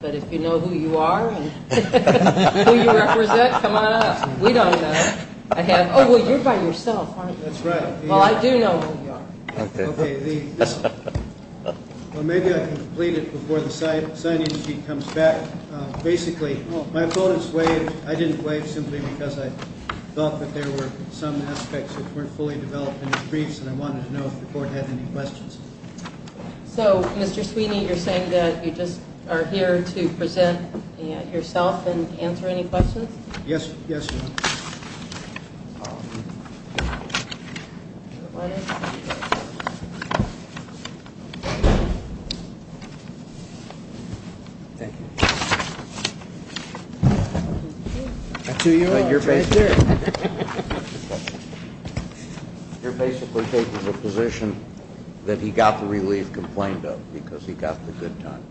But if you know who you are and who you represent, come on up. We don't know. Oh, well, you're by yourself, aren't you? That's right. Well, I do know who you are. Okay. Well, maybe I can complete it before the signing sheet comes back. Basically, my opponents waived. I didn't waive simply because I thought that there were some aspects that weren't fully developed in the briefs and I wanted to know if the court had any questions. So, Mr. Sweeney, you're saying that you just are here to present yourself and answer any questions? Yes. Yes, ma'am. Thank you. That's who you are. That's right there. You're basically taking the position that he got the relief complained of because he got the good time.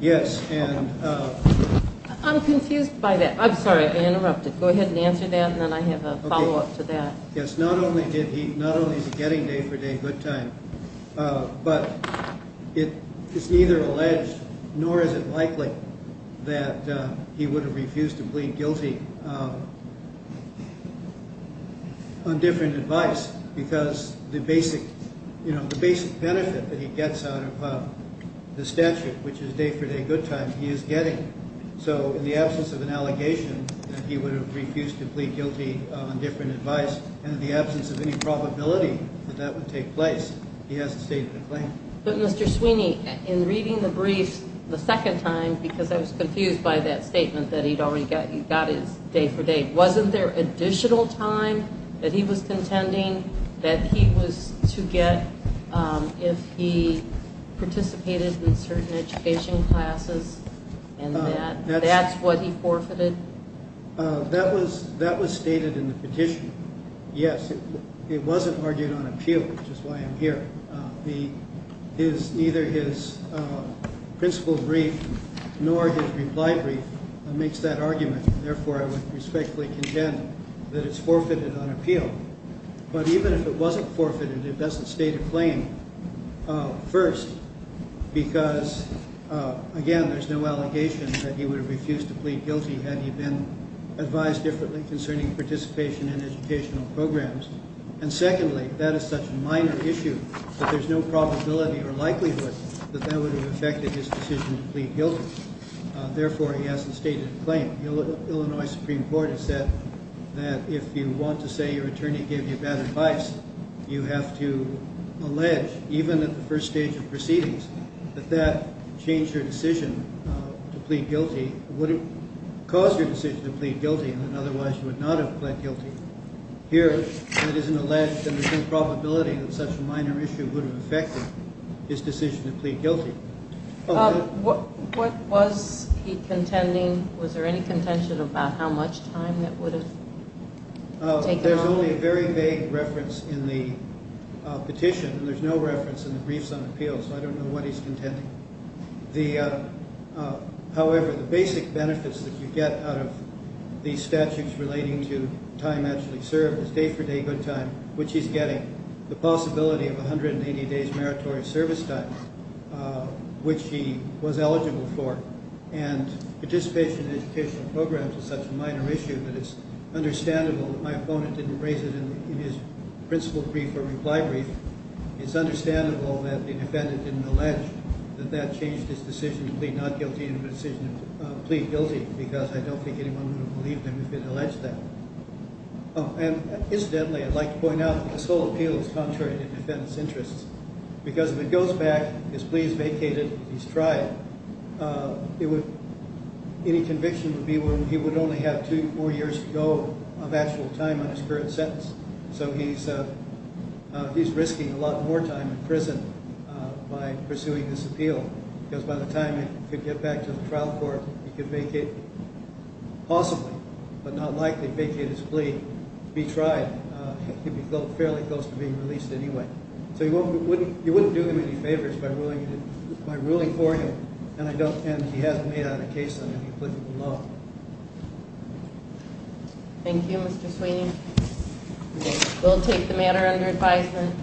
Yes, and... I'm confused by that. I'm sorry, I interrupted. Go ahead and answer that and then I have a follow-up to that. Yes, not only is he getting day-for-day good time, but it's neither alleged nor is it likely that he would have refused to plead guilty on different advice because the basic benefit that he gets out of the statute, which is day-for-day good time, he is getting. So, in the absence of an allegation that he would have refused to plead guilty on different advice and in the absence of any probability that that would take place, he has to state the claim. But, Mr. Sweeney, in reading the brief the second time, because I was confused by that statement that he'd already got his day-for-day, wasn't there additional time that he was contending that he was to get if he participated in certain education classes and that that's what he forfeited? That was stated in the petition. Yes, it wasn't argued on appeal, which is why I'm here. Neither his principal brief nor his reply brief makes that argument. Therefore, I would respectfully contend that it's forfeited on appeal. But even if it wasn't forfeited, it doesn't state a claim, first, because, again, there's no allegation that he would have refused to plead guilty had he been advised differently concerning participation in educational programs. And secondly, that is such a minor issue that there's no probability or likelihood that that would have affected his decision to plead guilty. Therefore, he hasn't stated a claim. The Illinois Supreme Court has said that if you want to say your attorney gave you bad advice, you have to allege, even at the first stage of proceedings, that that changed your decision to plead guilty. It wouldn't cause your decision to plead guilty, and then otherwise you would not have pled guilty. Here, it isn't alleged, and there's no probability that such a minor issue would have affected his decision to plead guilty. What was he contending? Was there any contention about how much time that would have taken off? There's only a very vague reference in the petition, and there's no reference in the briefs on appeal, so I don't know what he's contending. However, the basic benefits that you get out of these statutes relating to time actually served is day-for-day good time, which he's getting, the possibility of 180 days' meritorious service time, which he was eligible for. And participation in educational programs is such a minor issue that it's understandable that my opponent didn't raise it in his principle brief or reply brief. It's understandable that the defendant didn't allege that that changed his decision to plead not guilty into a decision to plead guilty, because I don't think anyone would have believed him if he'd alleged that. Incidentally, I'd like to point out that this whole appeal is contrary to the defendant's interests, because if it goes back, his plea is vacated, he's tried, any conviction would be where he would only have two to four years to go of actual time on his current sentence. So he's risking a lot more time in prison by pursuing this appeal, because by the time he could get back to the trial court, he could vacate, possibly, but not likely vacate his plea, be tried, he'd be fairly close to being released anyway. So you wouldn't do him any favors by ruling for him, and he hasn't made out a case under the applicable law. Thank you, Mr. Sweeney. We'll take the matter under advisement.